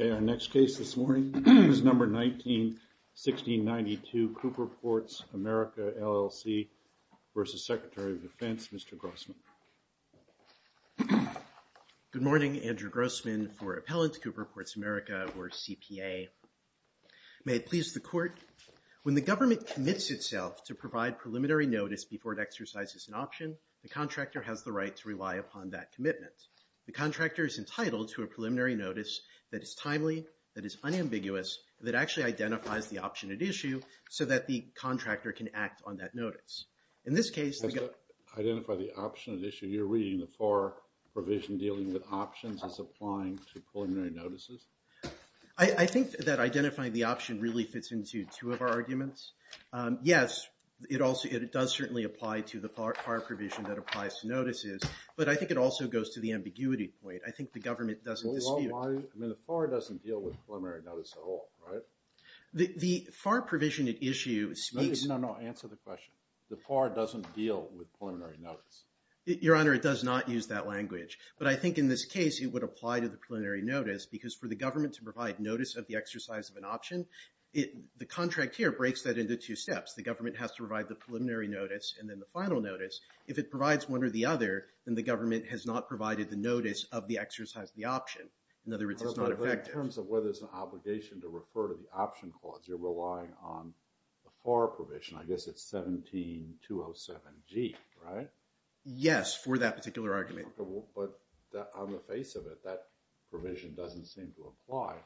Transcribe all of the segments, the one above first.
Okay, our next case this morning is number 19-1692 Cooper Ports America, LLC v. Secretary of Defense, Mr. Grossman. Good morning, Andrew Grossman for Appellant Cooper Ports America or CPA. May it please the Court, when the government commits itself to provide preliminary notice before it exercises an option, the contractor has the right to rely upon that commitment. The contractor is entitled to a preliminary notice that is timely, that is unambiguous, that actually identifies the option at issue so that the contractor can act on that notice. As to identify the option at issue, you're reading the FAR provision dealing with options as applying to preliminary notices? I think that identifying the option really fits into two of our arguments. Yes, it does certainly apply to the FAR provision that applies to notices, but I think it also goes to the ambiguity point. I think the government doesn't dispute it. I mean, the FAR doesn't deal with preliminary notice at all, right? The FAR provision at issue speaks… No, no, answer the question. The FAR doesn't deal with preliminary notice. Your Honor, it does not use that language, but I think in this case it would apply to the preliminary notice because for the government to provide notice of the exercise of an option, the contractor breaks that into two steps. The government has to provide the preliminary notice and then the final notice. If it provides one or the other, then the government has not provided the notice of the exercise of the option. In other words, it's not effective. In terms of whether it's an obligation to refer to the option clause, you're relying on the FAR provision. I guess it's 17207G, right? Yes, for that particular argument. But on the face of it, that provision doesn't seem to apply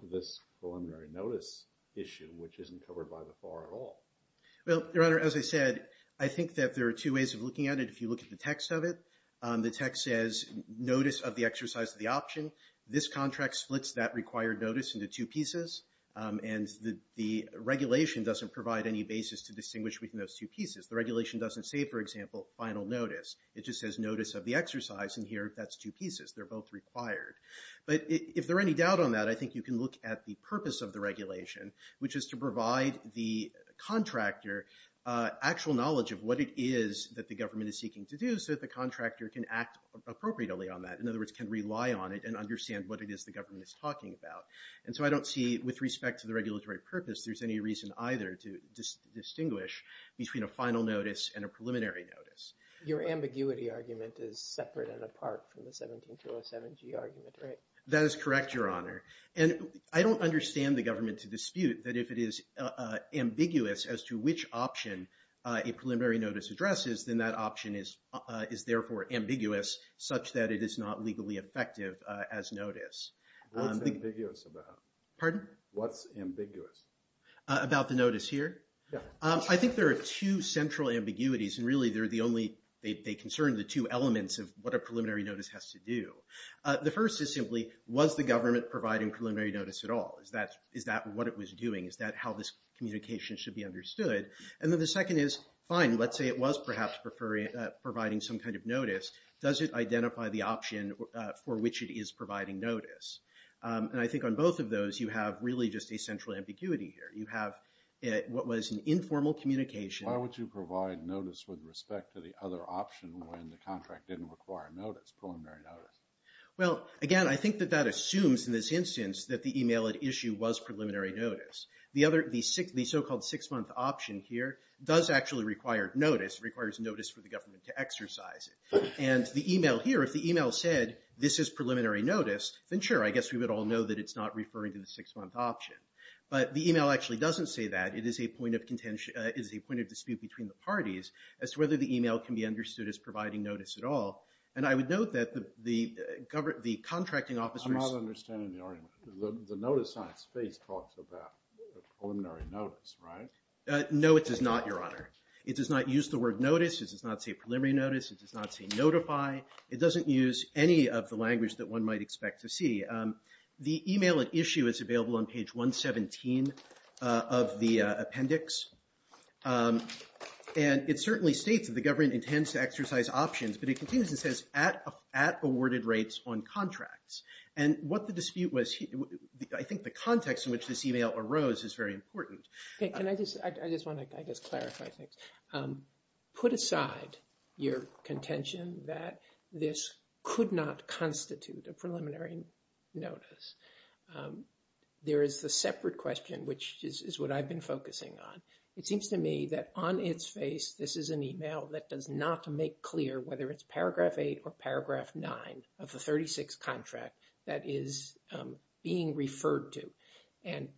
to this preliminary notice issue, which isn't covered by the FAR at all. Well, Your Honor, as I said, I think that there are two ways of looking at it if you look at the text of it. The text says notice of the exercise of the option. This contract splits that required notice into two pieces, and the regulation doesn't provide any basis to distinguish between those two pieces. The regulation doesn't say, for example, final notice. It just says notice of the exercise, and here that's two pieces. They're both required. But if there are any doubt on that, I think you can look at the purpose of the regulation, which is to provide the contractor actual knowledge of what it is that the government is seeking to do so that the contractor can act appropriately on that. In other words, can rely on it and understand what it is the government is talking about. And so I don't see, with respect to the regulatory purpose, there's any reason either to distinguish between a final notice and a preliminary notice. Your ambiguity argument is separate and apart from the 17207g argument, right? That is correct, Your Honor. And I don't understand the government to dispute that if it is ambiguous as to which option a preliminary notice addresses, then that option is therefore ambiguous such that it is not legally effective as notice. What's ambiguous about it? Pardon? What's ambiguous? About the notice here? Yeah. I think there are two central ambiguities, and really they concern the two elements of what a preliminary notice has to do. The first is simply, was the government providing preliminary notice at all? Is that what it was doing? Is that how this communication should be understood? And then the second is, fine, let's say it was perhaps providing some kind of notice. Does it identify the option for which it is providing notice? And I think on both of those, you have really just a central ambiguity here. You have what was an informal communication. Why would you provide notice with respect to the other option when the contract didn't require notice, preliminary notice? Well, again, I think that that assumes in this instance that the email at issue was preliminary notice. The so-called six-month option here does actually require notice, requires notice for the government to exercise it. And the email here, if the email said, this is preliminary notice, then sure, I guess we would all know that it's not referring to the six-month option. But the email actually doesn't say that. It is a point of dispute between the parties as to whether the email can be understood as providing notice at all. And I would note that the contracting officers- I'm not understanding the argument. The notice on its face talks about preliminary notice, right? No, it does not, Your Honor. It does not use the word notice. It does not say preliminary notice. It does not say notify. It doesn't use any of the language that one might expect to see. The email at issue is available on page 117 of the appendix. And it certainly states that the government intends to exercise options. But it continues and says, at awarded rates on contracts. And what the dispute was- I think the context in which this email arose is very important. Can I just- I just want to, I guess, clarify things. Put aside your contention that this could not constitute a preliminary notice. There is the separate question, which is what I've been focusing on. It seems to me that on its face, this is an email that does not make clear whether it's paragraph 8 or paragraph 9 of the 36 contract that is being referred to. And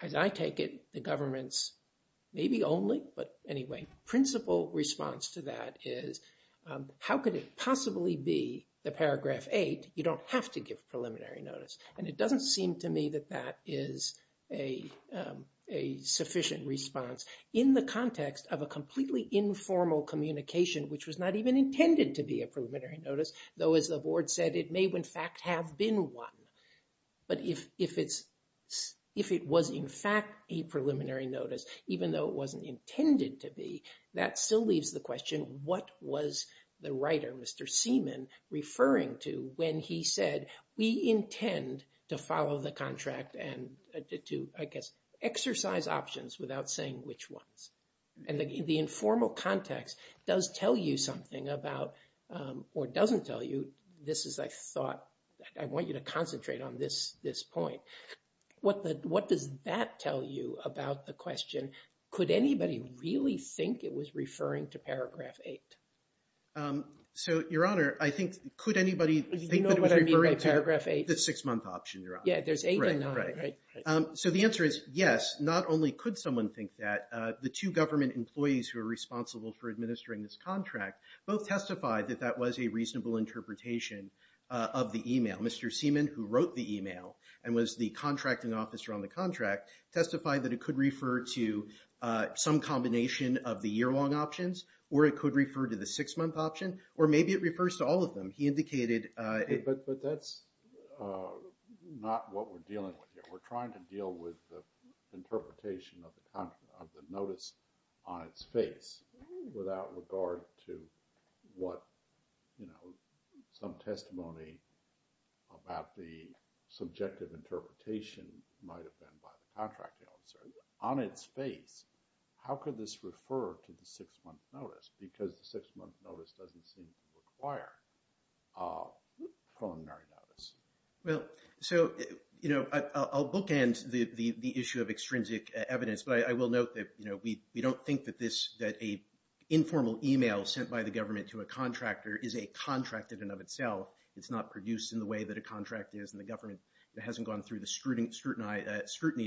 as I take it, the government's maybe only, but anyway, principal response to that is, how could it possibly be the paragraph 8? You don't have to give preliminary notice. And it doesn't seem to me that that is a sufficient response in the context of a completely informal communication, which was not even intended to be a preliminary notice. Though, as the board said, it may in fact have been one. But if it's- if it was in fact a preliminary notice, even though it wasn't intended to be, that still leaves the question, what was the writer, Mr. Seaman, referring to when he said, we intend to follow the contract and to, I guess, exercise options without saying which ones. And the informal context does tell you something about, or doesn't tell you, this is, I thought, I want you to concentrate on this point. What does that tell you about the question? Could anybody really think it was referring to paragraph 8? So, Your Honor, I think, could anybody think that it was referring to- Do you know what I mean by paragraph 8? The six-month option, Your Honor. Yeah, there's 8 and 9, right? So, the answer is yes. Not only could someone think that, the two government employees who are responsible for administering this contract both testified that that was a reasonable interpretation of the email. Mr. Seaman, who wrote the email and was the contracting officer on the contract, testified that it could refer to some combination of the year-long options, or it could refer to the six-month option, or maybe it refers to all of them. He indicated- But that's not what we're dealing with here. We're trying to deal with the interpretation of the notice on its face without regard to what, you know, some testimony about the subjective interpretation might have been by the contracting officer. On its face, how could this refer to the six-month notice? Because the six-month notice doesn't seem to require a preliminary notice. Well, so, you know, I'll bookend the issue of extrinsic evidence, but I will note that, you know, we don't think that this- that an informal email sent by the government to a contractor is a contract in and of itself. It's not produced in the way that a contract is, and the government hasn't gone through the scrutiny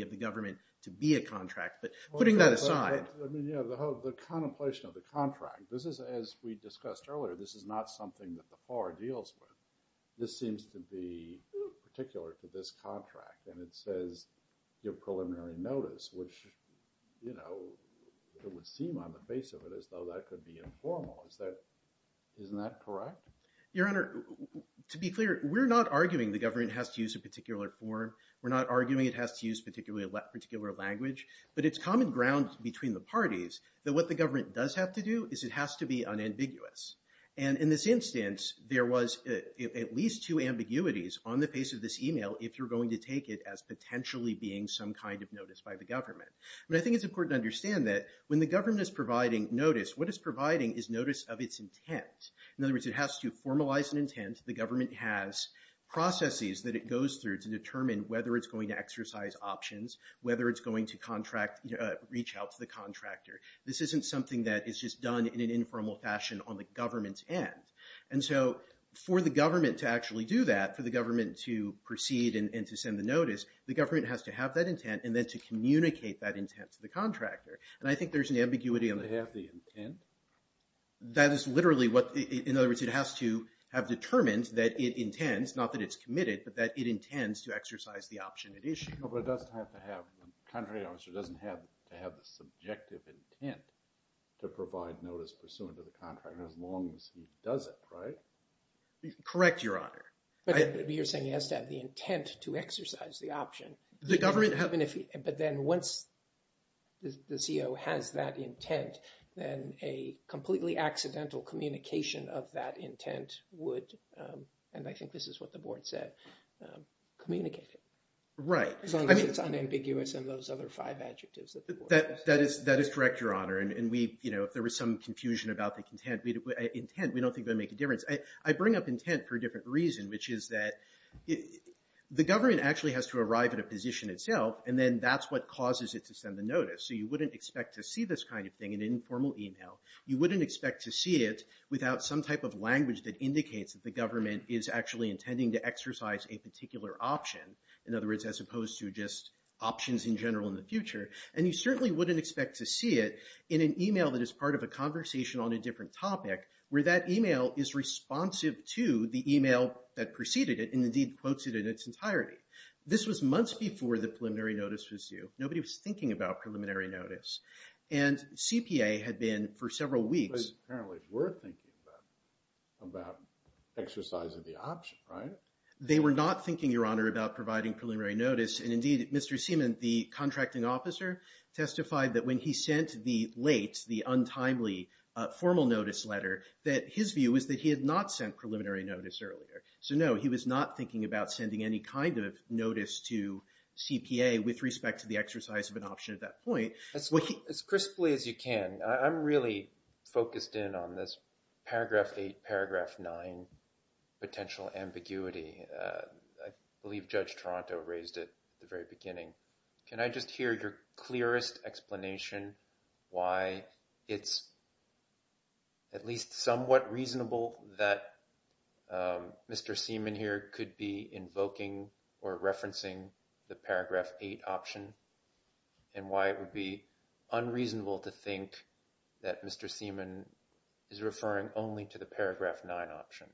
of the government to be a contract. But putting that aside- I mean, you know, the contemplation of the contract, this is, as we discussed earlier, this is not something that the FAR deals with. This seems to be particular to this contract, and it says give preliminary notice, which, you know, it would seem on the face of it as though that could be informal. Isn't that correct? Your Honor, to be clear, we're not arguing the government has to use a particular form. We're not arguing it has to use a particular language. But it's common ground between the parties that what the government does have to do is it has to be unambiguous. And in this instance, there was at least two ambiguities on the face of this email if you're going to take it as potentially being some kind of notice by the government. But I think it's important to understand that when the government is providing notice, what it's providing is notice of its intent. In other words, it has to formalize an intent. The government has processes that it goes through to determine whether it's going to exercise options, whether it's going to reach out to the contractor. This isn't something that is just done in an informal fashion on the government's end. And so for the government to actually do that, for the government to proceed and to send the notice, the government has to have that intent and then to communicate that intent to the contractor. And I think there's an ambiguity on that. The intent? That is literally what – in other words, it has to have determined that it intends, not that it's committed, but that it intends to exercise the option at issue. But it doesn't have to have – the contractor obviously doesn't have to have the subjective intent to provide notice pursuant to the contractor as long as he does it, right? Correct, Your Honor. But you're saying he has to have the intent to exercise the option. The government – But then once the COO has that intent, then a completely accidental communication of that intent would – and I think this is what the board said – communicate it. Right. As long as it's unambiguous and those other five adjectives that the board – That is correct, Your Honor. And we, you know, if there was some confusion about the intent, we don't think that would make a difference. I bring up intent for a different reason, which is that the government actually has to arrive at a position itself, and then that's what causes it to send the notice. So you wouldn't expect to see this kind of thing in an informal email. You wouldn't expect to see it without some type of language that indicates that the government is actually intending to exercise a particular option. In other words, as opposed to just options in general in the future. And you certainly wouldn't expect to see it in an email that is part of a conversation on a different topic where that email is responsive to the email that preceded it and indeed quotes it in its entirety. This was months before the preliminary notice was due. Nobody was thinking about preliminary notice. And CPA had been for several weeks – But apparently they were thinking about exercising the option, right? They were not thinking, Your Honor, about providing preliminary notice. And indeed, Mr. Seaman, the contracting officer, testified that when he sent the late, the untimely formal notice letter, that his view was that he had not sent preliminary notice earlier. So, no, he was not thinking about sending any kind of notice to CPA with respect to the exercise of an option at that point. As crisply as you can, I'm really focused in on this paragraph 8, paragraph 9 potential ambiguity. I believe Judge Toronto raised it at the very beginning. Can I just hear your clearest explanation why it's at least somewhat reasonable that Mr. Seaman here could be invoking or referencing the paragraph 8 option and why it would be unreasonable to think that Mr. Seaman is referring only to the paragraph 9 option?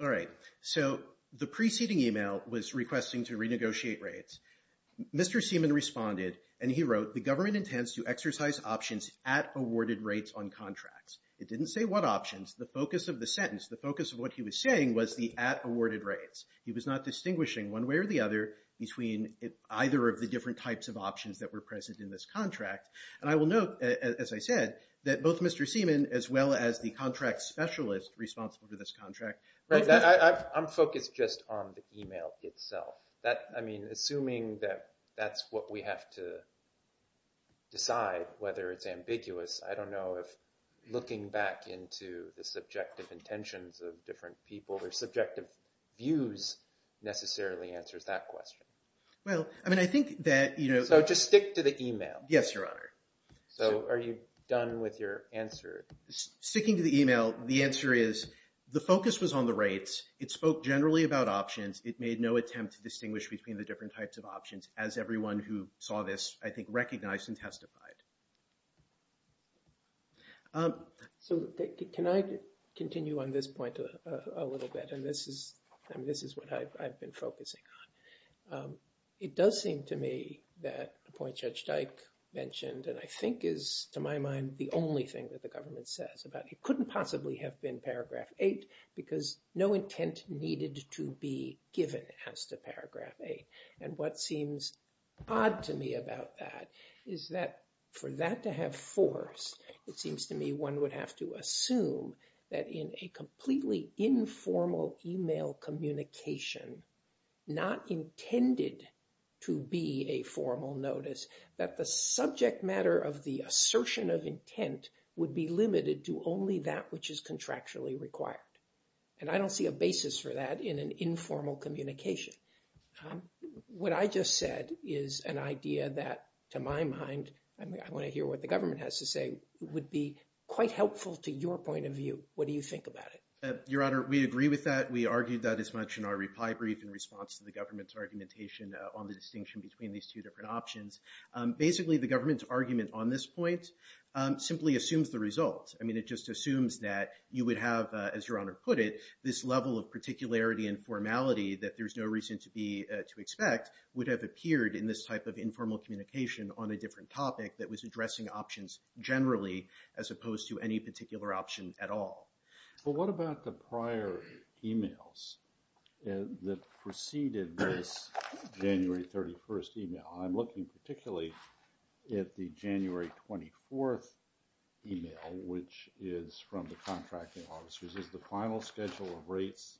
All right, so the preceding email was requesting to renegotiate rates. Mr. Seaman responded, and he wrote, the government intends to exercise options at awarded rates on contracts. It didn't say what options. The focus of the sentence, the focus of what he was saying was the at awarded rates. He was not distinguishing one way or the other between either of the different types of options that were present in this contract. And I will note, as I said, that both Mr. Seaman as well as the contract specialist responsible for this contract. I'm focused just on the email itself. I mean, assuming that that's what we have to decide whether it's ambiguous, I don't know if looking back into the subjective intentions of different people or subjective views necessarily answers that question. Well, I mean, I think that – So just stick to the email. Yes, Your Honor. So are you done with your answer? Sticking to the email, the answer is the focus was on the rates. It spoke generally about options. It made no attempt to distinguish between the different types of options as everyone who saw this, I think, recognized and testified. So can I continue on this point a little bit? And this is what I've been focusing on. It does seem to me that the point Judge Dyke mentioned and I think is, to my mind, the only thing that the government says about it couldn't possibly have been paragraph 8 because no intent needed to be given as to paragraph 8. And what seems odd to me about that is that for that to have force, it seems to me one would have to assume that in a completely informal email communication, not intended to be a formal notice, that the subject matter of the assertion of intent would be limited to only that which is contractually required. And I don't see a basis for that in an informal communication. What I just said is an idea that, to my mind – I want to hear what the government has to say – would be quite helpful to your point of view. What do you think about it? Your Honor, we agree with that. We argued that as much in our reply brief in response to the government's argumentation on the distinction between these two different options. Basically, the government's argument on this point simply assumes the result. I mean it just assumes that you would have, as Your Honor put it, this level of particularity and formality that there's no reason to expect would have appeared in this type of informal communication on a different topic that was addressing options generally as opposed to any particular option at all. Well, what about the prior emails that preceded this January 31st email? I'm looking particularly at the January 24th email, which is from the contracting officers. It says the final schedule of rates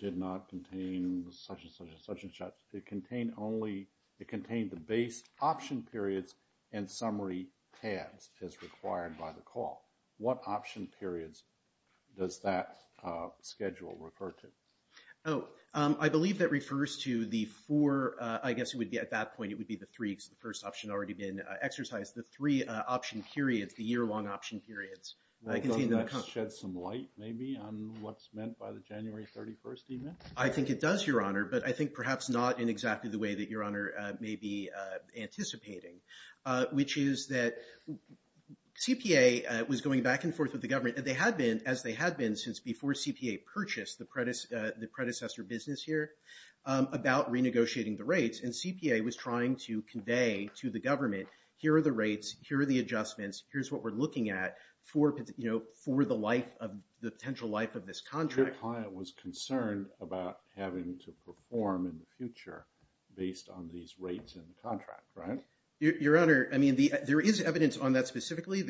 did not contain such and such and such and such. It contained only – it contained the base option periods and summary tabs as required by the call. What option periods does that schedule refer to? Oh, I believe that refers to the four – I guess it would be at that point it would be the three because the first option had already been exercised. The three option periods, the year-long option periods. Well, doesn't that shed some light maybe on what's meant by the January 31st email? I think it does, Your Honor, but I think perhaps not in exactly the way that Your Honor may be anticipating, which is that CPA was going back and forth with the government. They had been, as they had been since before CPA purchased the predecessor business here, about renegotiating the rates. And CPA was trying to convey to the government here are the rates, here are the adjustments, here's what we're looking at for the life of – the potential life of this contract. Your client was concerned about having to perform in the future based on these rates in the contract, right? Your Honor, I mean, there is evidence on that specifically.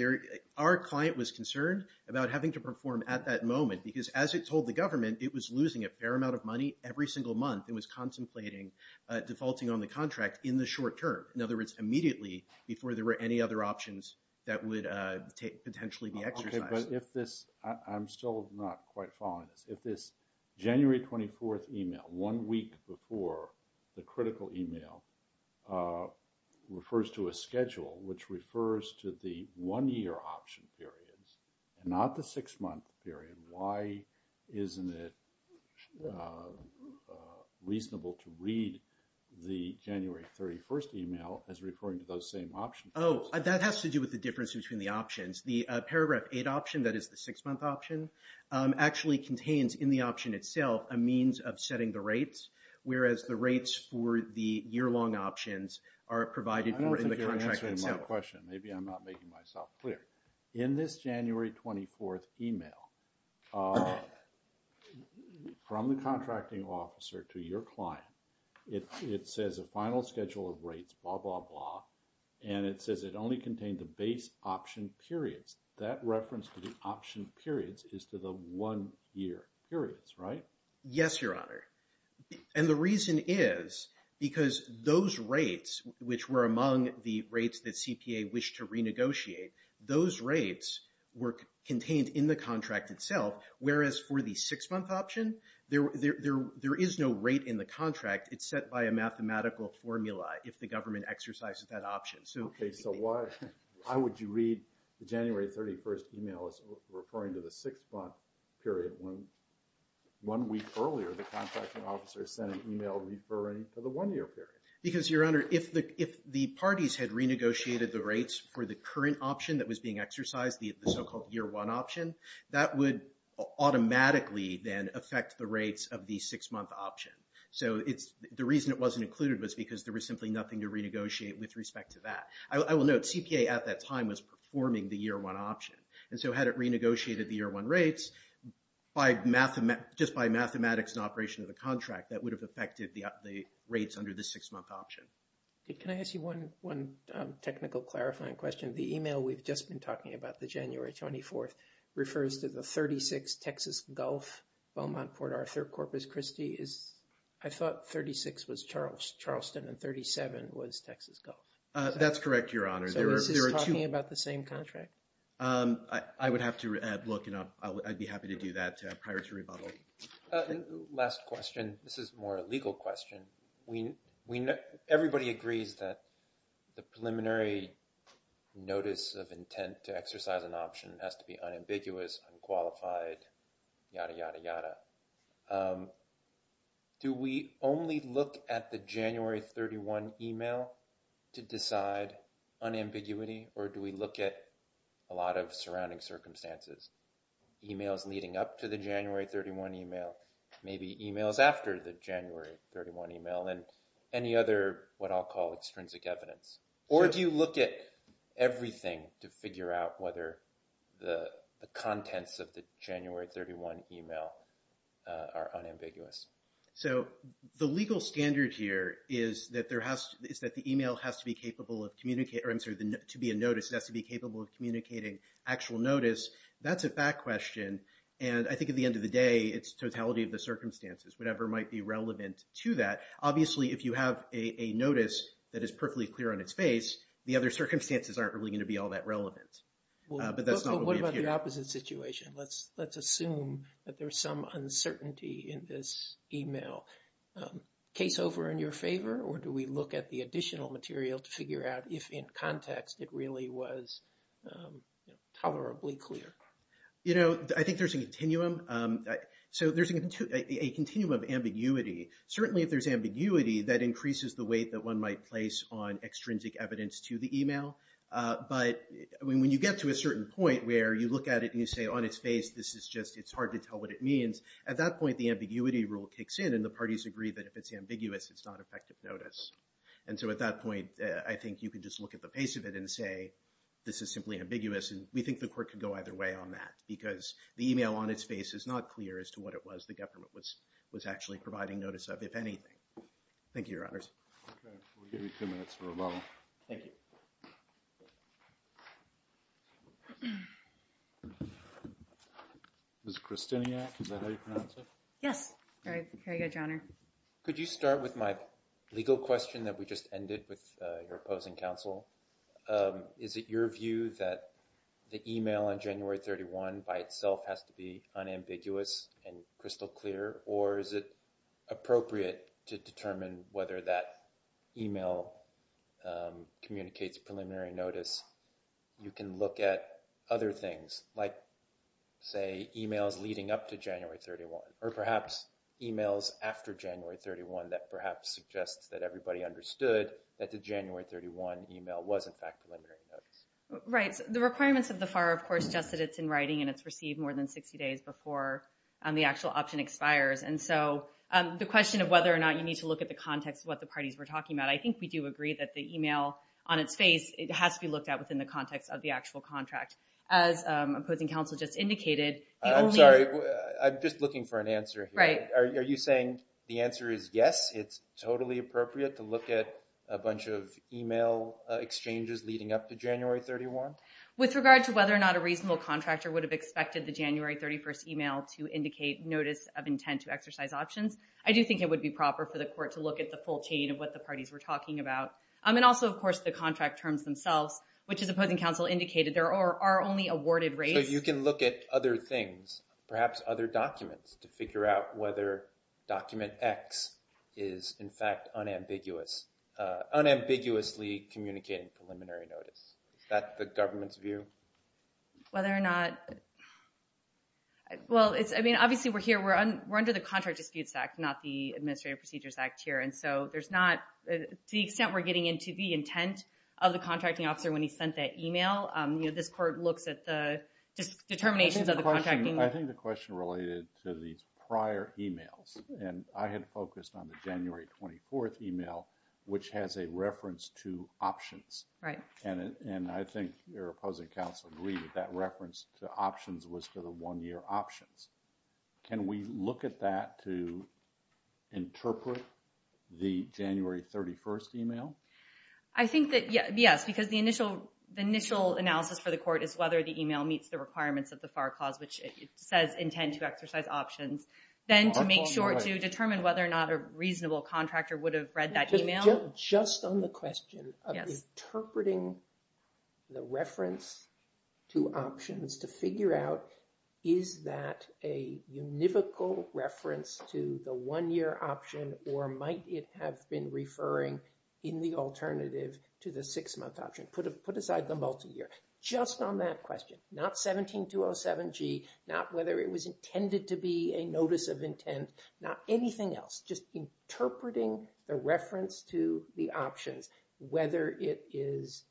Our client was concerned about having to perform at that moment because, as it told the government, it was losing a fair amount of money every single month and was contemplating defaulting on the contract in the short term. In other words, immediately before there were any other options that would potentially be exercised. I'm still not quite following this. If this January 24th email, one week before the critical email, refers to a schedule, which refers to the one-year option periods and not the six-month period, why isn't it reasonable to read the January 31st email as referring to those same option periods? Oh, that has to do with the difference between the options. The Paragraph 8 option, that is the six-month option, actually contains in the option itself a means of setting the rates, whereas the rates for the year-long options are provided for in the contract itself. I don't think you're answering my question. Maybe I'm not making myself clear. In this January 24th email, from the contracting officer to your client, it says a final schedule of rates, blah, blah, blah, and it says it only contained the base option periods. That reference to the option periods is to the one-year periods, right? Yes, Your Honor. And the reason is because those rates, which were among the rates that CPA wished to renegotiate, those rates were contained in the contract itself, whereas for the six-month option, there is no rate in the contract. It's set by a mathematical formula if the government exercises that option. Okay, so why would you read the January 31st email as referring to the six-month period when one week earlier the contracting officer sent an email referring to the one-year period? Because, Your Honor, if the parties had renegotiated the rates for the current option that was being exercised, the so-called year-one option, that would automatically then affect the rates of the six-month option. So the reason it wasn't included was because there was simply nothing to renegotiate with respect to that. I will note, CPA at that time was performing the year-one option, and so had it renegotiated the year-one rates, just by mathematics and operation of the contract, that would have affected the rates under the six-month option. Can I ask you one technical clarifying question? The email we've just been talking about, the January 24th, refers to the 36 Texas Gulf Beaumont-Port Arthur-Corpus Christi. I thought 36 was Charleston and 37 was Texas Gulf. That's correct, Your Honor. So this is talking about the same contract? I would have to look. I'd be happy to do that prior to rebuttal. Last question. This is more a legal question. Everybody agrees that the preliminary notice of intent to exercise an option has to be unambiguous, unqualified, yada, yada, yada. Do we only look at the January 31 email to decide unambiguity, or do we look at a lot of surrounding circumstances, emails leading up to the January 31 email, maybe emails after the January 31 email, and any other what I'll call extrinsic evidence? Or do you look at everything to figure out whether the contents of the January 31 email are unambiguous? Yes. So the legal standard here is that the email has to be capable of communicating, or I'm sorry, to be a notice, it has to be capable of communicating actual notice. That's a back question, and I think at the end of the day, it's totality of the circumstances, whatever might be relevant to that. Obviously, if you have a notice that is perfectly clear on its face, the other circumstances aren't really going to be all that relevant. But what about the opposite situation? Let's assume that there's some uncertainty in this email. Case over in your favor, or do we look at the additional material to figure out if in context it really was tolerably clear? I think there's a continuum. So there's a continuum of ambiguity. Certainly, if there's ambiguity, that increases the weight that one might place on extrinsic evidence to the email. But when you get to a certain point where you look at it and you say, on its face, this is just, it's hard to tell what it means, at that point, the ambiguity rule kicks in, and the parties agree that if it's ambiguous, it's not effective notice. And so at that point, I think you could just look at the face of it and say, this is simply ambiguous, and we think the court could go either way on that, because the email on its face is not clear as to what it was the government was actually providing notice of, if anything. Thank you, Your Honors. Okay. We'll give you two minutes for a moment. Thank you. Ms. Krasiniak, is that how you pronounce it? Yes. Very good, Your Honor. Could you start with my legal question that we just ended with your opposing counsel? Is it your view that the email on January 31 by itself has to be unambiguous and crystal clear? Or is it appropriate to determine whether that email communicates preliminary notice? You can look at other things, like, say, emails leading up to January 31, or perhaps emails after January 31 that perhaps suggests that everybody understood that the January 31 email was, in fact, preliminary notice. Right. The requirements of the FAR, of course, suggest that it's in writing and it's received more than 60 days before the actual option expires. And so the question of whether or not you need to look at the context of what the parties were talking about, I think we do agree that the email on its face, it has to be looked at within the context of the actual contract. As opposing counsel just indicated, the only— I'm sorry. I'm just looking for an answer here. Right. Are you saying the answer is yes, it's totally appropriate to look at a bunch of email exchanges leading up to January 31? With regard to whether or not a reasonable contractor would have expected the January 31 email to indicate notice of intent to exercise options, I do think it would be proper for the court to look at the full chain of what the parties were talking about. And also, of course, the contract terms themselves, which, as opposing counsel indicated, there are only awarded rates. So you can look at other things, perhaps other documents, to figure out whether document X is, in fact, unambiguously communicating preliminary notice. Is that the government's view? Whether or not—well, I mean, obviously we're here, we're under the Contract Disputes Act, not the Administrative Procedures Act here. And so there's not—to the extent we're getting into the intent of the contracting officer when he sent that email, you know, this court looks at the determinations of the contracting— I think the question related to these prior emails. And I had focused on the January 24 email, which has a reference to options. Right. And I think your opposing counsel agreed that that reference to options was to the one-year options. Can we look at that to interpret the January 31 email? I think that—yes, because the initial analysis for the court is whether the email meets the requirements of the FAR clause, which says intent to exercise options. Then to make sure to determine whether or not a reasonable contractor would have read that email. Just on the question of interpreting the reference to options to figure out, is that a univocal reference to the one-year option, or might it have been referring in the alternative to the six-month option? Put aside the multi-year. Just on that question, not 17207G, not whether it was intended to be a notice of intent, not anything else. Just interpreting the reference to the options, whether it is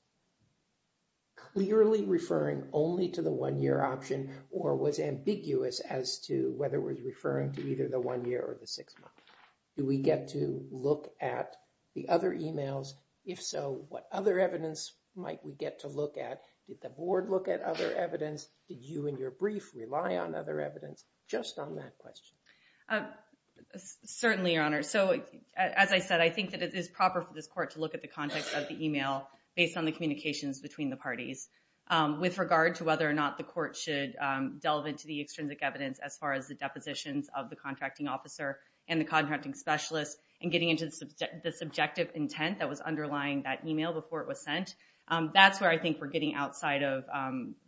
clearly referring only to the one-year option, or was ambiguous as to whether it was referring to either the one-year or the six-month. Do we get to look at the other emails? If so, what other evidence might we get to look at? Did the board look at other evidence? Did you and your brief rely on other evidence? Just on that question. Certainly, Your Honor. As I said, I think that it is proper for this court to look at the context of the email based on the communications between the parties. With regard to whether or not the court should delve into the extrinsic evidence as far as the depositions of the contracting officer and the contracting specialist, and getting into the subjective intent that was underlying that email before it was sent, that's where I think we're getting outside of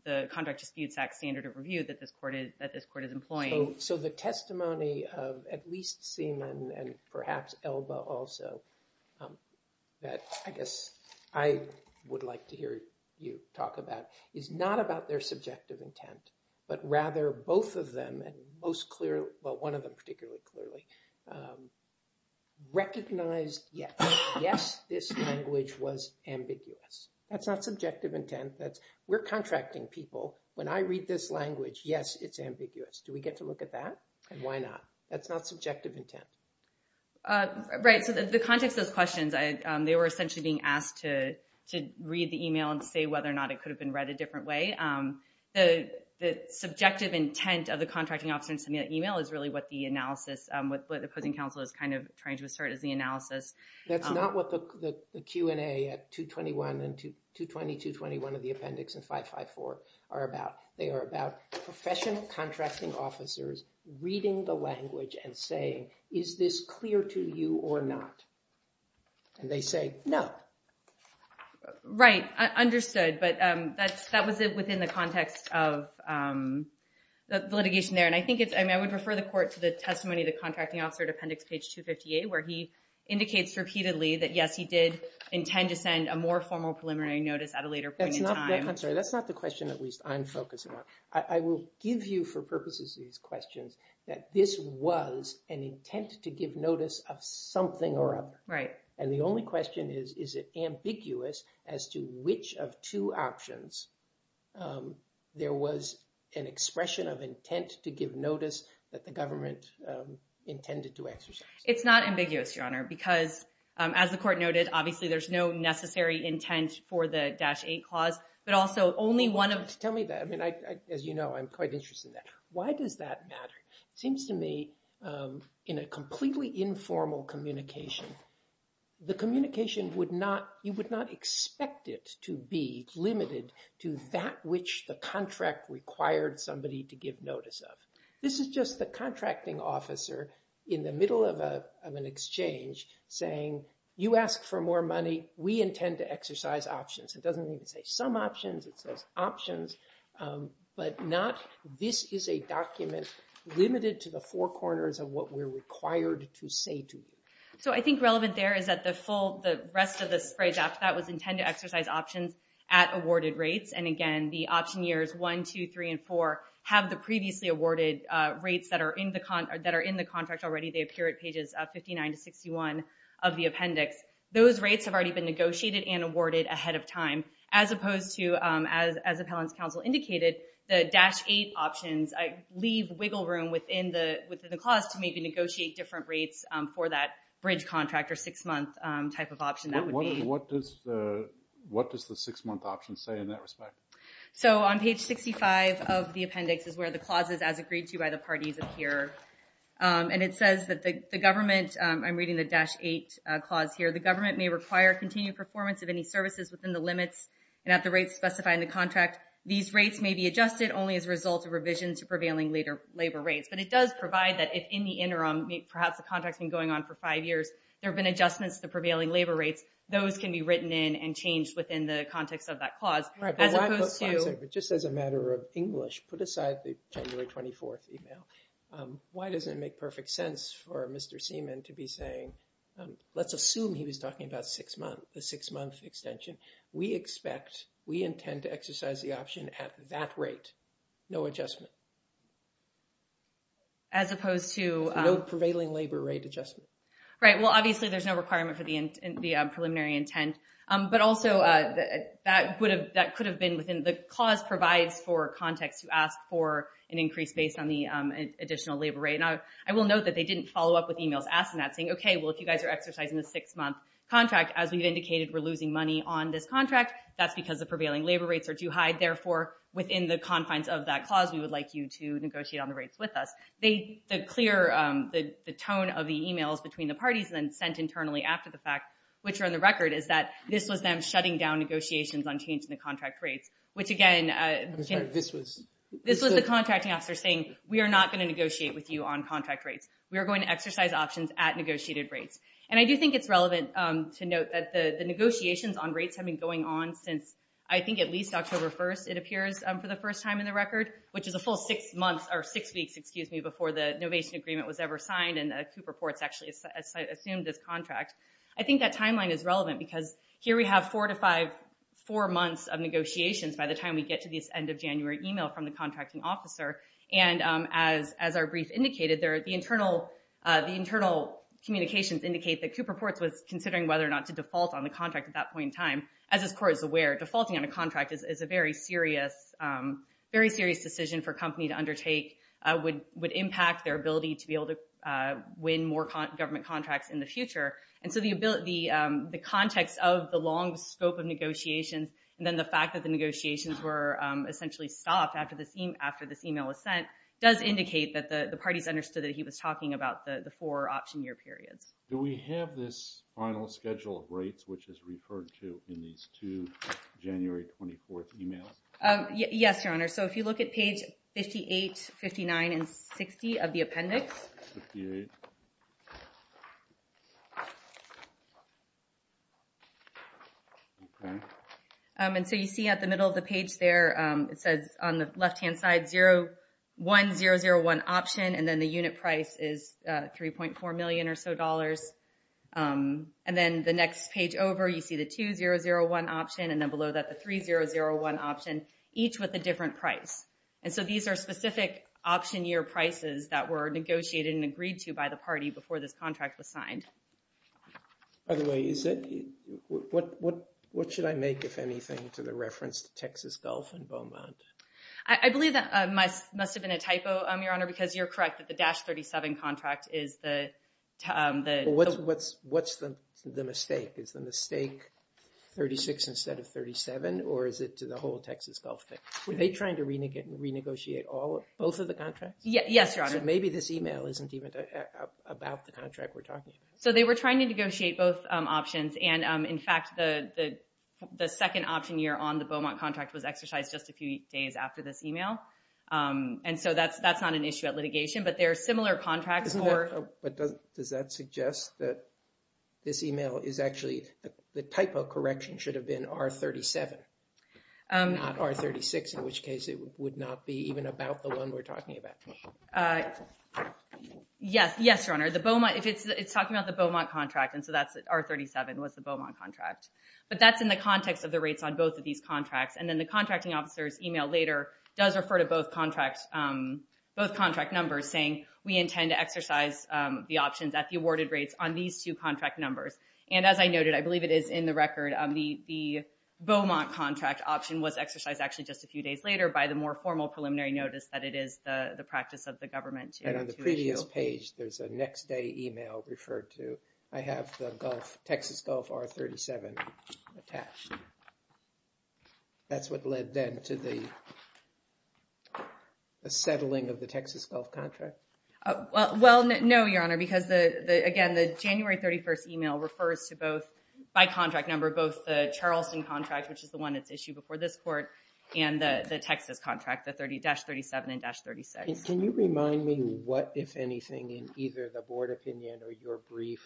the contract disputes act standard of review that this court is employing. So the testimony of at least Seaman and perhaps Elba also, that I guess I would like to hear you talk about, is not about their subjective intent, but rather both of them, and most clearly, well, one of them particularly clearly, recognized yes. Yes, this language was ambiguous. That's not subjective intent. We're contracting people. When I read this language, yes, it's ambiguous. Do we get to look at that? And why not? That's not subjective intent. Right. So the context of those questions, they were essentially being asked to read the email and say whether or not it could have been read a different way. The subjective intent of the contracting officer in sending that email is really what the analysis, what the opposing counsel is kind of trying to assert is the analysis. That's not what the Q&A at 221 and 220-221 of the appendix and 554 are about. They are about professional contracting officers reading the language and saying, is this clear to you or not? And they say no. Right. Understood. But that was within the context of the litigation there. And I think it's, I mean, I would refer the court to the testimony of the contracting officer at appendix page 258, where he indicates repeatedly that, yes, he did intend to send a more formal preliminary notice at a later point in time. I'm sorry. That's not the question at least I'm focusing on. I will give you for purposes of these questions that this was an intent to give notice of something or other. Right. And the only question is, is it ambiguous as to which of two options there was an expression of intent to give notice that the government intended to exercise? It's not ambiguous, Your Honor, because as the court noted, obviously, there's no necessary intent for the Dash 8 clause, but also only one of. Tell me that. I mean, as you know, I'm quite interested in that. Why does that matter? It seems to me in a completely informal communication, the communication would not, you would not expect it to be limited to that which the contract required somebody to give notice of. This is just the contracting officer in the middle of an exchange saying, you ask for more money, we intend to exercise options. It doesn't even say some options, it says options, but not, this is a document limited to the four corners of what we're required to say to you. So I think relevant there is that the full, the rest of the phrase after that was intend to exercise options at awarded rates. And again, the option years 1, 2, 3, and 4 have the previously awarded rates that are in the contract already. They appear at pages 59 to 61 of the appendix. Those rates have already been negotiated and awarded ahead of time. As opposed to, as appellant's counsel indicated, the Dash 8 options leave wiggle room within the clause to maybe negotiate different rates for that bridge contract or six month type of option. What does the six month option say in that respect? So on page 65 of the appendix is where the clauses as agreed to by the parties appear. And it says that the government, I'm reading the Dash 8 clause here, the government may require continued performance of any services within the limits and at the rates specified in the contract. These rates may be adjusted only as a result of revision to prevailing labor rates. But it does provide that if in the interim, perhaps the contract's been going on for five years, there have been adjustments to the prevailing labor rates. Those can be written in and changed within the context of that clause. Just as a matter of English, put aside the January 24th email. Why does it make perfect sense for Mr. Seaman to be saying, let's assume he was talking about a six month extension. We expect, we intend to exercise the option at that rate. No adjustment. As opposed to... No prevailing labor rate adjustment. Right, well obviously there's no requirement for the preliminary intent. But also, that could have been within, the clause provides for context to ask for an increase based on the additional labor rate. Now, I will note that they didn't follow up with emails asking that, saying, okay, well if you guys are exercising a six month contract, as we've indicated, we're losing money on this contract. That's because the prevailing labor rates are too high. Therefore, within the confines of that clause, we would like you to negotiate on the rates with us. The clear, the tone of the emails between the parties and sent internally after the fact, which are in the record, is that this was them shutting down negotiations on changing the contract rates. Which again... I'm sorry, this was... This was the contracting officer saying, we are not going to negotiate with you on contract rates. We are going to exercise options at negotiated rates. And I do think it's relevant to note that the negotiations on rates have been going on since, I think at least October 1st, it appears, for the first time in the record. Which is a full six months, or six weeks, excuse me, before the innovation agreement was ever signed and Cooper Ports actually assumed this contract. I think that timeline is relevant because here we have four to five, four months of negotiations by the time we get to this end of January email from the contracting officer. And as our brief indicated, the internal communications indicate that Cooper Ports was considering whether or not to default on the contract at that point in time. As this court is aware, defaulting on a contract is a very serious decision for a company to undertake, would impact their ability to be able to win more government contracts in the future. And so the context of the long scope of negotiations, and then the fact that the negotiations were essentially stopped after this email was sent, does indicate that the parties understood that he was talking about the four option year periods. Do we have this final schedule of rates, which is referred to in these two January 24th emails? Yes, Your Honor. So if you look at page 58, 59, and 60 of the appendix. 58. Okay. And so you see at the middle of the page there, it says on the left hand side, 01001 option, and then the unit price is 3.4 million or so dollars. And then the next page over you see the 2001 option and then below that the 3001 option, each with a different price. And so these are specific option year prices that were negotiated and agreed to by the party before this contract was signed. By the way, what should I make, if anything, to the reference to Texas Gulf and Beaumont? I believe that must have been a typo, Your Honor, because you're correct that the Dash 37 contract is the... What's the mistake? Is the mistake 36 instead of 37, or is it to the whole Texas Gulf? Were they trying to renegotiate both of the contracts? Yes, Your Honor. So maybe this email isn't even about the contract we're talking about. So they were trying to negotiate both options. And in fact, the second option year on the Beaumont contract was exercised just a few days after this email. And so that's not an issue at litigation, but there are similar contracts for... In which case it would not be even about the one we're talking about. Yes, Your Honor. It's talking about the Beaumont contract, and so that's R37 was the Beaumont contract. But that's in the context of the rates on both of these contracts. And then the contracting officer's email later does refer to both contract numbers saying, we intend to exercise the options at the awarded rates on these two contract numbers. And as I noted, I believe it is in the record, the Beaumont contract option was exercised actually just a few days later by the more formal preliminary notice that it is the practice of the government to issue. And on the previous page, there's a next day email referred to. I have the Gulf, Texas Gulf R37 attached. That's what led then to the settling of the Texas Gulf contract? Well, no, Your Honor. Because again, the January 31st email refers to both, by contract number, both the Charleston contract, which is the one that's issued before this court, and the Texas contract, the 30-37 and 36. Can you remind me what, if anything, in either the board opinion or your brief,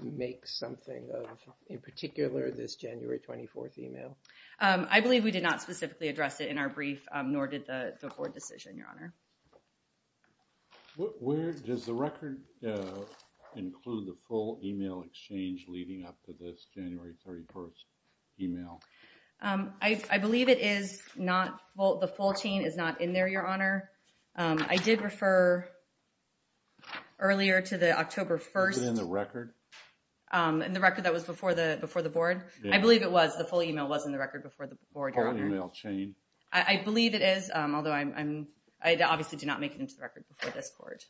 makes something of, in particular, this January 24th email? I believe we did not specifically address it in our brief, nor did the board decision, Your Honor. Where does the record include the full email exchange leading up to this January 31st email? I believe it is not, the full chain is not in there, Your Honor. I did refer earlier to the October 1st. Is it in the record? In the record that was before the board? I believe it was. The full email was in the record before the board, Your Honor. The full email chain? I believe it is, although I obviously do not make it into the record before this court.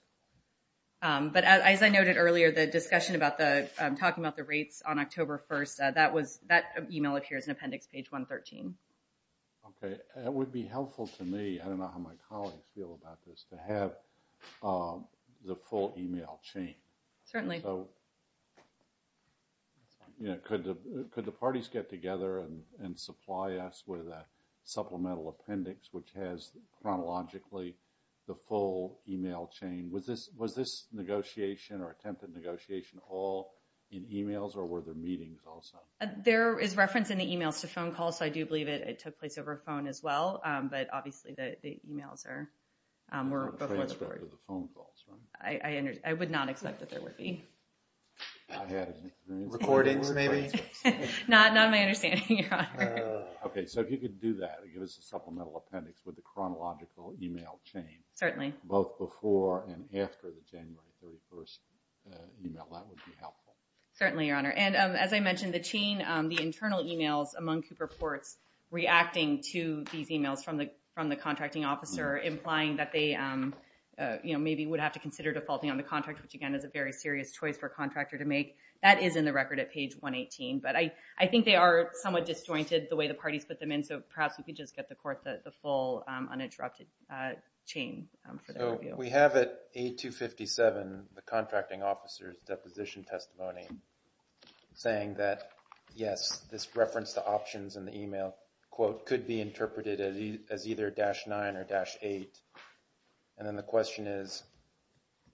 But as I noted earlier, the discussion about the, talking about the rates on October 1st, that email appears in appendix page 113. Okay. It would be helpful to me, I don't know how my colleagues feel about this, to have the full email chain. Certainly. So, you know, could the parties get together and supply us with a supplemental appendix which has chronologically the full email chain? Was this negotiation or attempt at negotiation all in emails, or were there meetings also? There is reference in the emails to phone calls, so I do believe it took place over a phone as well. But obviously the emails were before the board. I would not expect that there would be. Recordings maybe? Not my understanding, Your Honor. Okay. So if you could do that, give us a supplemental appendix with the chronological email chain. Certainly. Both before and after the January 31st email, that would be helpful. Certainly, Your Honor. And as I mentioned, the chain, the internal emails among Cooper Ports reacting to these emails from the contracting officer implying that they maybe would have to consider defaulting on the contract, which again is a very serious choice for a contractor to make. That is in the record at page 118. But I think they are somewhat disjointed the way the parties put them in, so perhaps we could just get the full uninterrupted chain for the review. So we have at 8257 the contracting officer's deposition testimony saying that, yes, this reference to options in the email, quote, could be interpreted as either dash 9 or dash 8. And then the question is,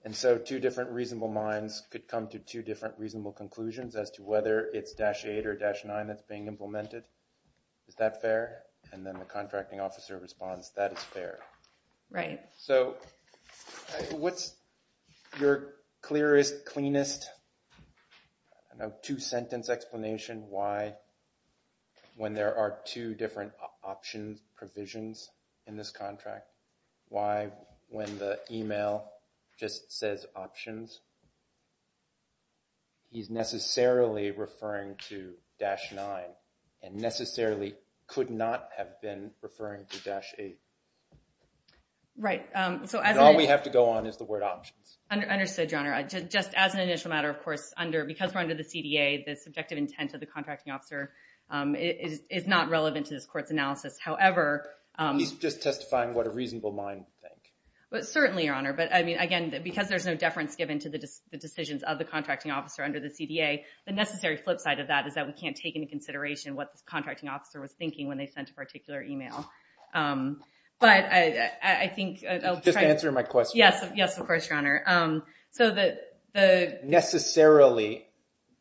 and so two different reasonable minds could come to two different reasonable conclusions as to whether it's dash 8 or dash 9 that's being implemented. Is that fair? And then the contracting officer responds, that is fair. Right. So what's your clearest, cleanest, I don't know, two-sentence explanation why, when there are two different options provisions in this contract, why when the email just says options, he's necessarily referring to dash 9 and necessarily could not have been referring to dash 8? Right. All we have to go on is the word options. Understood, Your Honor. Just as an initial matter, of course, because we're under the CDA, the subjective intent of the contracting officer is not relevant to this court's analysis. However, He's just testifying what a reasonable mind would think. Certainly, Your Honor. But, I mean, again, because there's no deference given to the decisions of the contracting officer under the CDA, the necessary flip side of that is that we can't take into consideration what the contracting officer was thinking when they sent a particular email. But I think... Just answer my question. Yes, of course, Your Honor. So the... Necessarily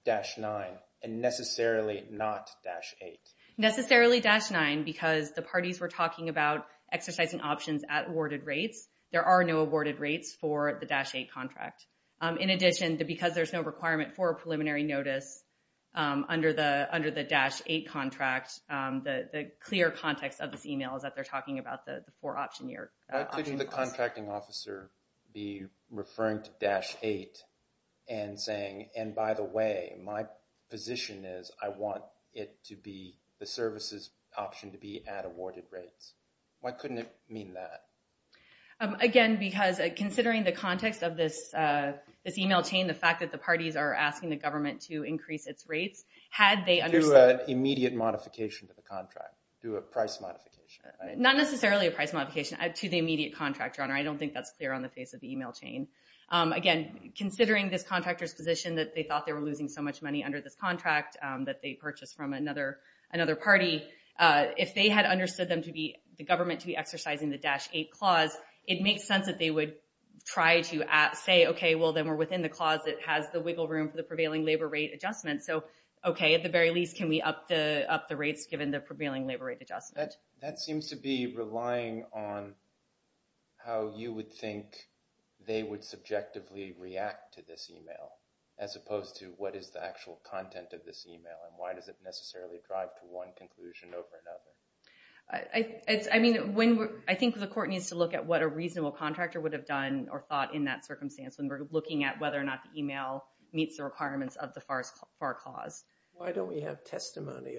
dash 9 and necessarily not dash 8. Necessarily dash 9 because the parties were talking about exercising options at awarded rates. There are no awarded rates for the dash 8 contract. In addition, because there's no requirement for a preliminary notice under the dash 8 contract, the clear context of this email is that they're talking about the four option year. Why couldn't the contracting officer be referring to dash 8 and saying, and by the way, my position is I want it to be the services option to be at awarded rates? Why couldn't it mean that? Again, because considering the context of this email chain, the fact that the parties are asking the government to increase its rates, had they understood... Do a price modification. Not necessarily a price modification to the immediate contractor, Your Honor. I don't think that's clear on the face of the email chain. Again, considering this contractor's position that they thought they were losing so much money under this contract that they purchased from another party, if they had understood the government to be exercising the dash 8 clause, it makes sense that they would try to say, okay, well, then we're within the clause that has the wiggle room for the prevailing labor rate adjustment. Okay, at the very least, can we up the rates given the prevailing labor rate adjustment? That seems to be relying on how you would think they would subjectively react to this email as opposed to what is the actual content of this email and why does it necessarily drive to one conclusion over another? I think the court needs to look at what a reasonable contractor would have done or thought in that circumstance when we're looking at whether or not the email meets the requirements of the FAR clause. Why don't we have testimony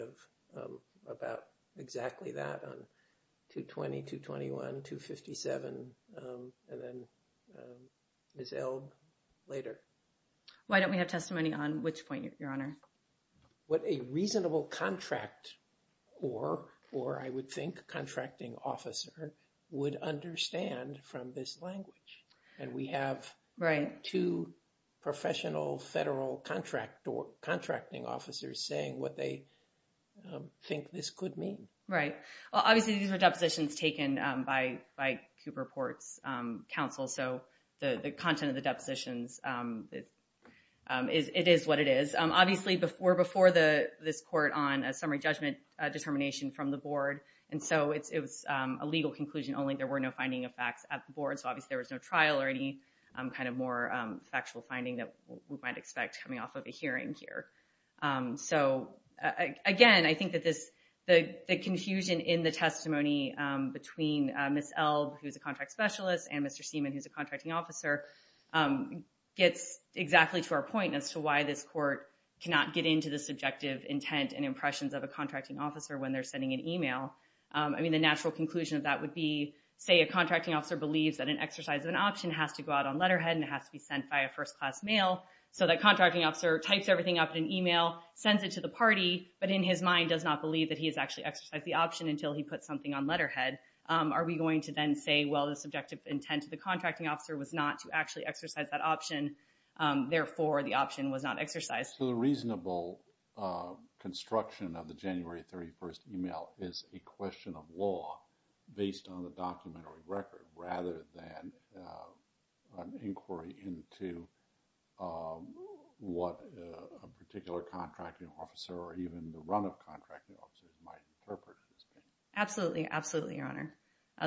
about exactly that on 220, 221, 257, and then Ms. Elb later? Why don't we have testimony on which point, Your Honor? What a reasonable contract or, I would think, contracting officer would understand from this language. And we have two professional federal contracting officers saying what they think this could mean. Right. Well, obviously, these are depositions taken by Cooper Ports Council, so the content of the depositions, it is what it is. Obviously, we're before this court on a summary judgment determination from the board, and so it was a legal conclusion only. There were no finding of facts at the board, so obviously there was no trial or any kind of more factual finding that we might expect coming off of a hearing here. So, again, I think that the confusion in the testimony between Ms. Elb, who's a contract specialist, and Mr. Seaman, who's a contracting officer, gets exactly to our point as to why this court cannot get into the subjective intent and impressions of a contracting officer when they're sending an email. I mean, the natural conclusion of that would be, say, a contracting officer believes that an exercise of an option has to go out on letterhead and it has to be sent by a first-class mail, so that contracting officer types everything up in an email, sends it to the party, but in his mind does not believe that he has actually exercised the option until he puts something on letterhead. Are we going to then say, well, the subjective intent of the contracting officer was not to actually exercise that option, therefore the option was not exercised? So the reasonable construction of the January 31st email is a question of law based on the documentary record rather than an inquiry into what a particular contracting officer or even the run of contracting officers might interpret. Absolutely, absolutely, Your Honor.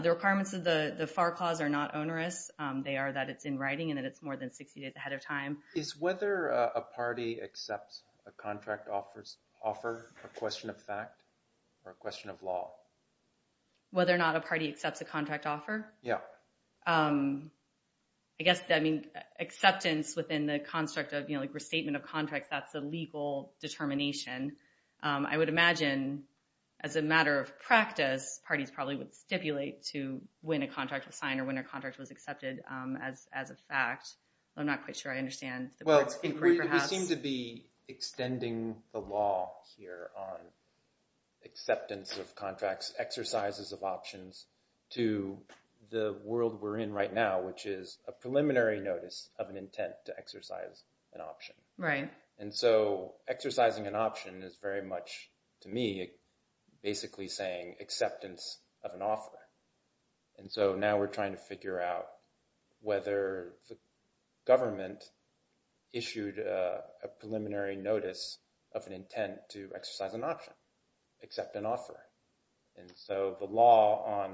The requirements of the FAR clause are not onerous. They are that it's in writing and that it's more than 60 days ahead of time. Is whether a party accepts a contract offer a question of fact or a question of law? Whether or not a party accepts a contract offer? Yeah. I guess acceptance within the construct of restatement of contracts, that's a legal determination. I would imagine as a matter of practice, parties probably would stipulate to when a contract was signed or when a contract was accepted as a fact. I'm not quite sure I understand the inquiry perhaps. Well, we seem to be extending the law here on acceptance of contracts, exercises of options to the world we're in right now, which is a preliminary notice of an intent to exercise an option. Right. And so exercising an option is very much, to me, basically saying acceptance of an offer. And so now we're trying to figure out whether the government issued a preliminary notice of an intent to exercise an option, accept an offer. And so the law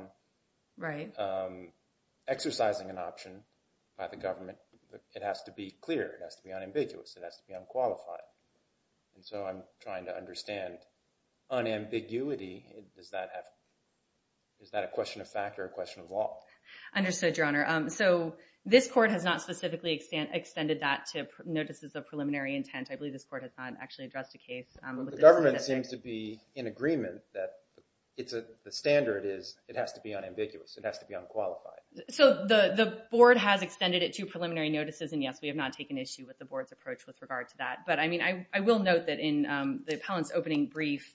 on exercising an option by the government, it has to be clear. It has to be unambiguous. It has to be unqualified. And so I'm trying to understand unambiguity. Is that a question of fact or a question of law? Understood, Your Honor. So this court has not specifically extended that to notices of preliminary intent. I believe this court has not actually addressed a case. The government seems to be in agreement that the standard is it has to be unambiguous. It has to be unqualified. So the board has extended it to preliminary notices, and, yes, we have not taken issue with the board's approach with regard to that. But I mean, I will note that in the appellant's opening brief,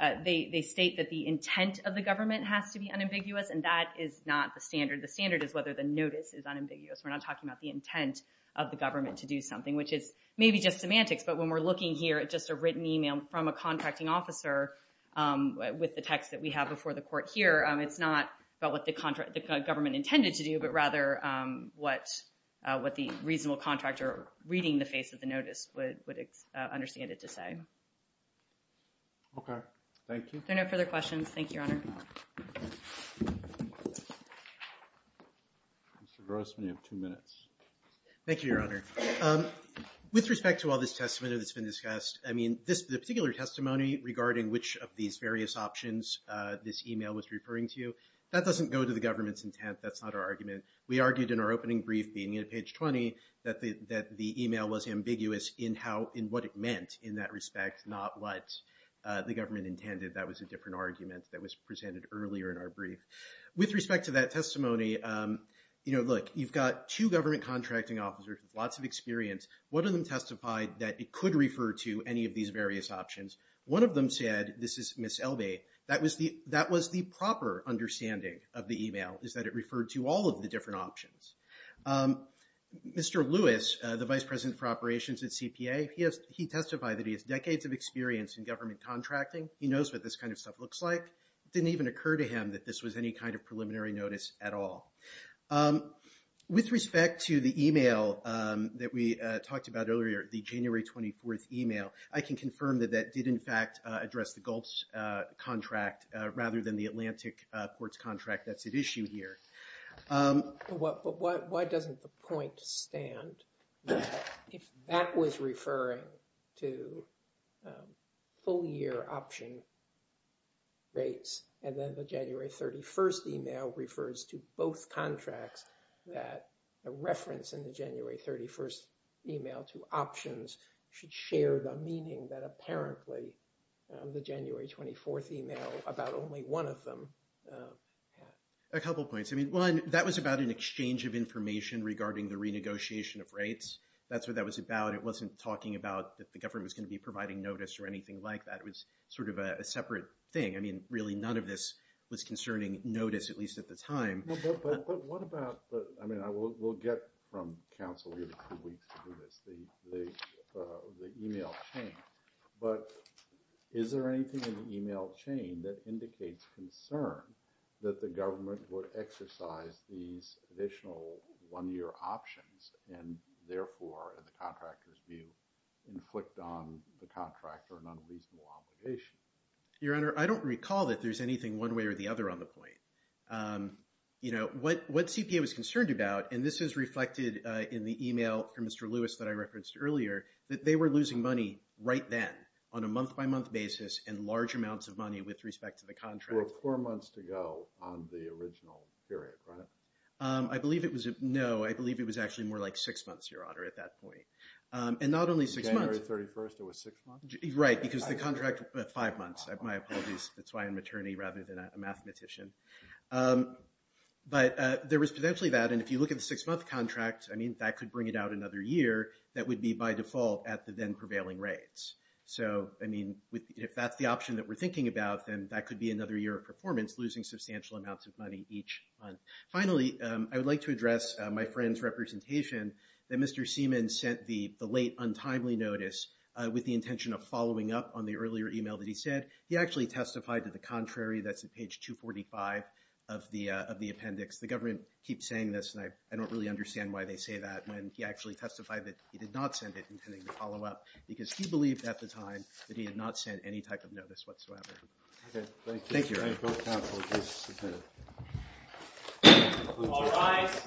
they state that the intent of the government has to be unambiguous. And that is not the standard. The standard is whether the notice is unambiguous. We're not talking about the intent of the government to do something, which is maybe just semantics. But when we're looking here at just a written email from a contracting officer with the text that we have before the court here, it's not about what the government intended to do, but rather what the reasonable contractor reading the face of the notice would understand it to say. Okay. Thank you. If there are no further questions, thank you, Your Honor. Mr. Grossman, you have two minutes. Thank you, Your Honor. With respect to all this testimony that's been discussed, I mean, the particular testimony regarding which of these various options this email was referring to, that doesn't go to the government's intent. That's not our argument. We argued in our opening brief, being at page 20, that the email was ambiguous in what it meant in that respect, not what the government intended. That was a different argument that was presented earlier in our brief. With respect to that testimony, you know, look, you've got two government contracting officers with lots of experience. One of them testified that it could refer to any of these various options. One of them said, this is Ms. Elbey, that was the proper understanding of the email, is that it referred to all of the different options. Mr. Lewis, the Vice President for Operations at CPA, he testified that he has decades of experience in government contracting. He knows what this kind of stuff looks like. It didn't even occur to him that this was any kind of preliminary notice at all. With respect to the email that we talked about earlier, the January 24th email, I can confirm that that did in fact address the GULTS contract rather than the Atlantic Ports contract that's at issue here. But why doesn't the point stand that if that was referring to full year option rates and then the January 31st email refers to both contracts, that a reference in the January 31st email to options should share the meaning that apparently the January 24th email about only one of them had? A couple points. I mean, one, that was about an exchange of information regarding the renegotiation of rates. That's what that was about. It wasn't talking about that the government was going to be providing notice or anything like that. It was sort of a separate thing. I mean, really none of this was concerning notice, at least at the time. But what about – I mean, we'll get from counsel here in a few weeks to do this, the email chain. But is there anything in the email chain that indicates concern that the government would exercise these additional one-year options and therefore, in the contractor's view, inflict on the contractor an unreasonable obligation? Your Honor, I don't recall that there's anything one way or the other on the point. You know, what CPA was concerned about, and this is reflected in the email from Mr. Lewis that I referenced earlier, that they were losing money right then on a month-by-month basis and large amounts of money with respect to the contract. Four months to go on the original period, right? I believe it was – no, I believe it was actually more like six months, Your Honor, at that point. And not only six months. January 31st, it was six months? Right, because the contract – five months. My apologies. That's why I'm an attorney rather than a mathematician. But there was potentially that, and if you look at the six-month contract, I mean, that could bring it out another year that would be by default at the then-prevailing rates. So, I mean, if that's the option that we're thinking about, then that could be another year of performance, losing substantial amounts of money each month. Finally, I would like to address my friend's representation that Mr. Seaman sent the late, untimely notice with the intention of following up on the earlier email that he sent. He actually testified to the contrary. That's at page 245 of the appendix. The government keeps saying this, and I don't really understand why they say that when he actually testified that he did not send it, intending to follow up, because he believed at the time that he had not sent any type of notice whatsoever. Okay, thank you. Thank you, Your Honor. All rise.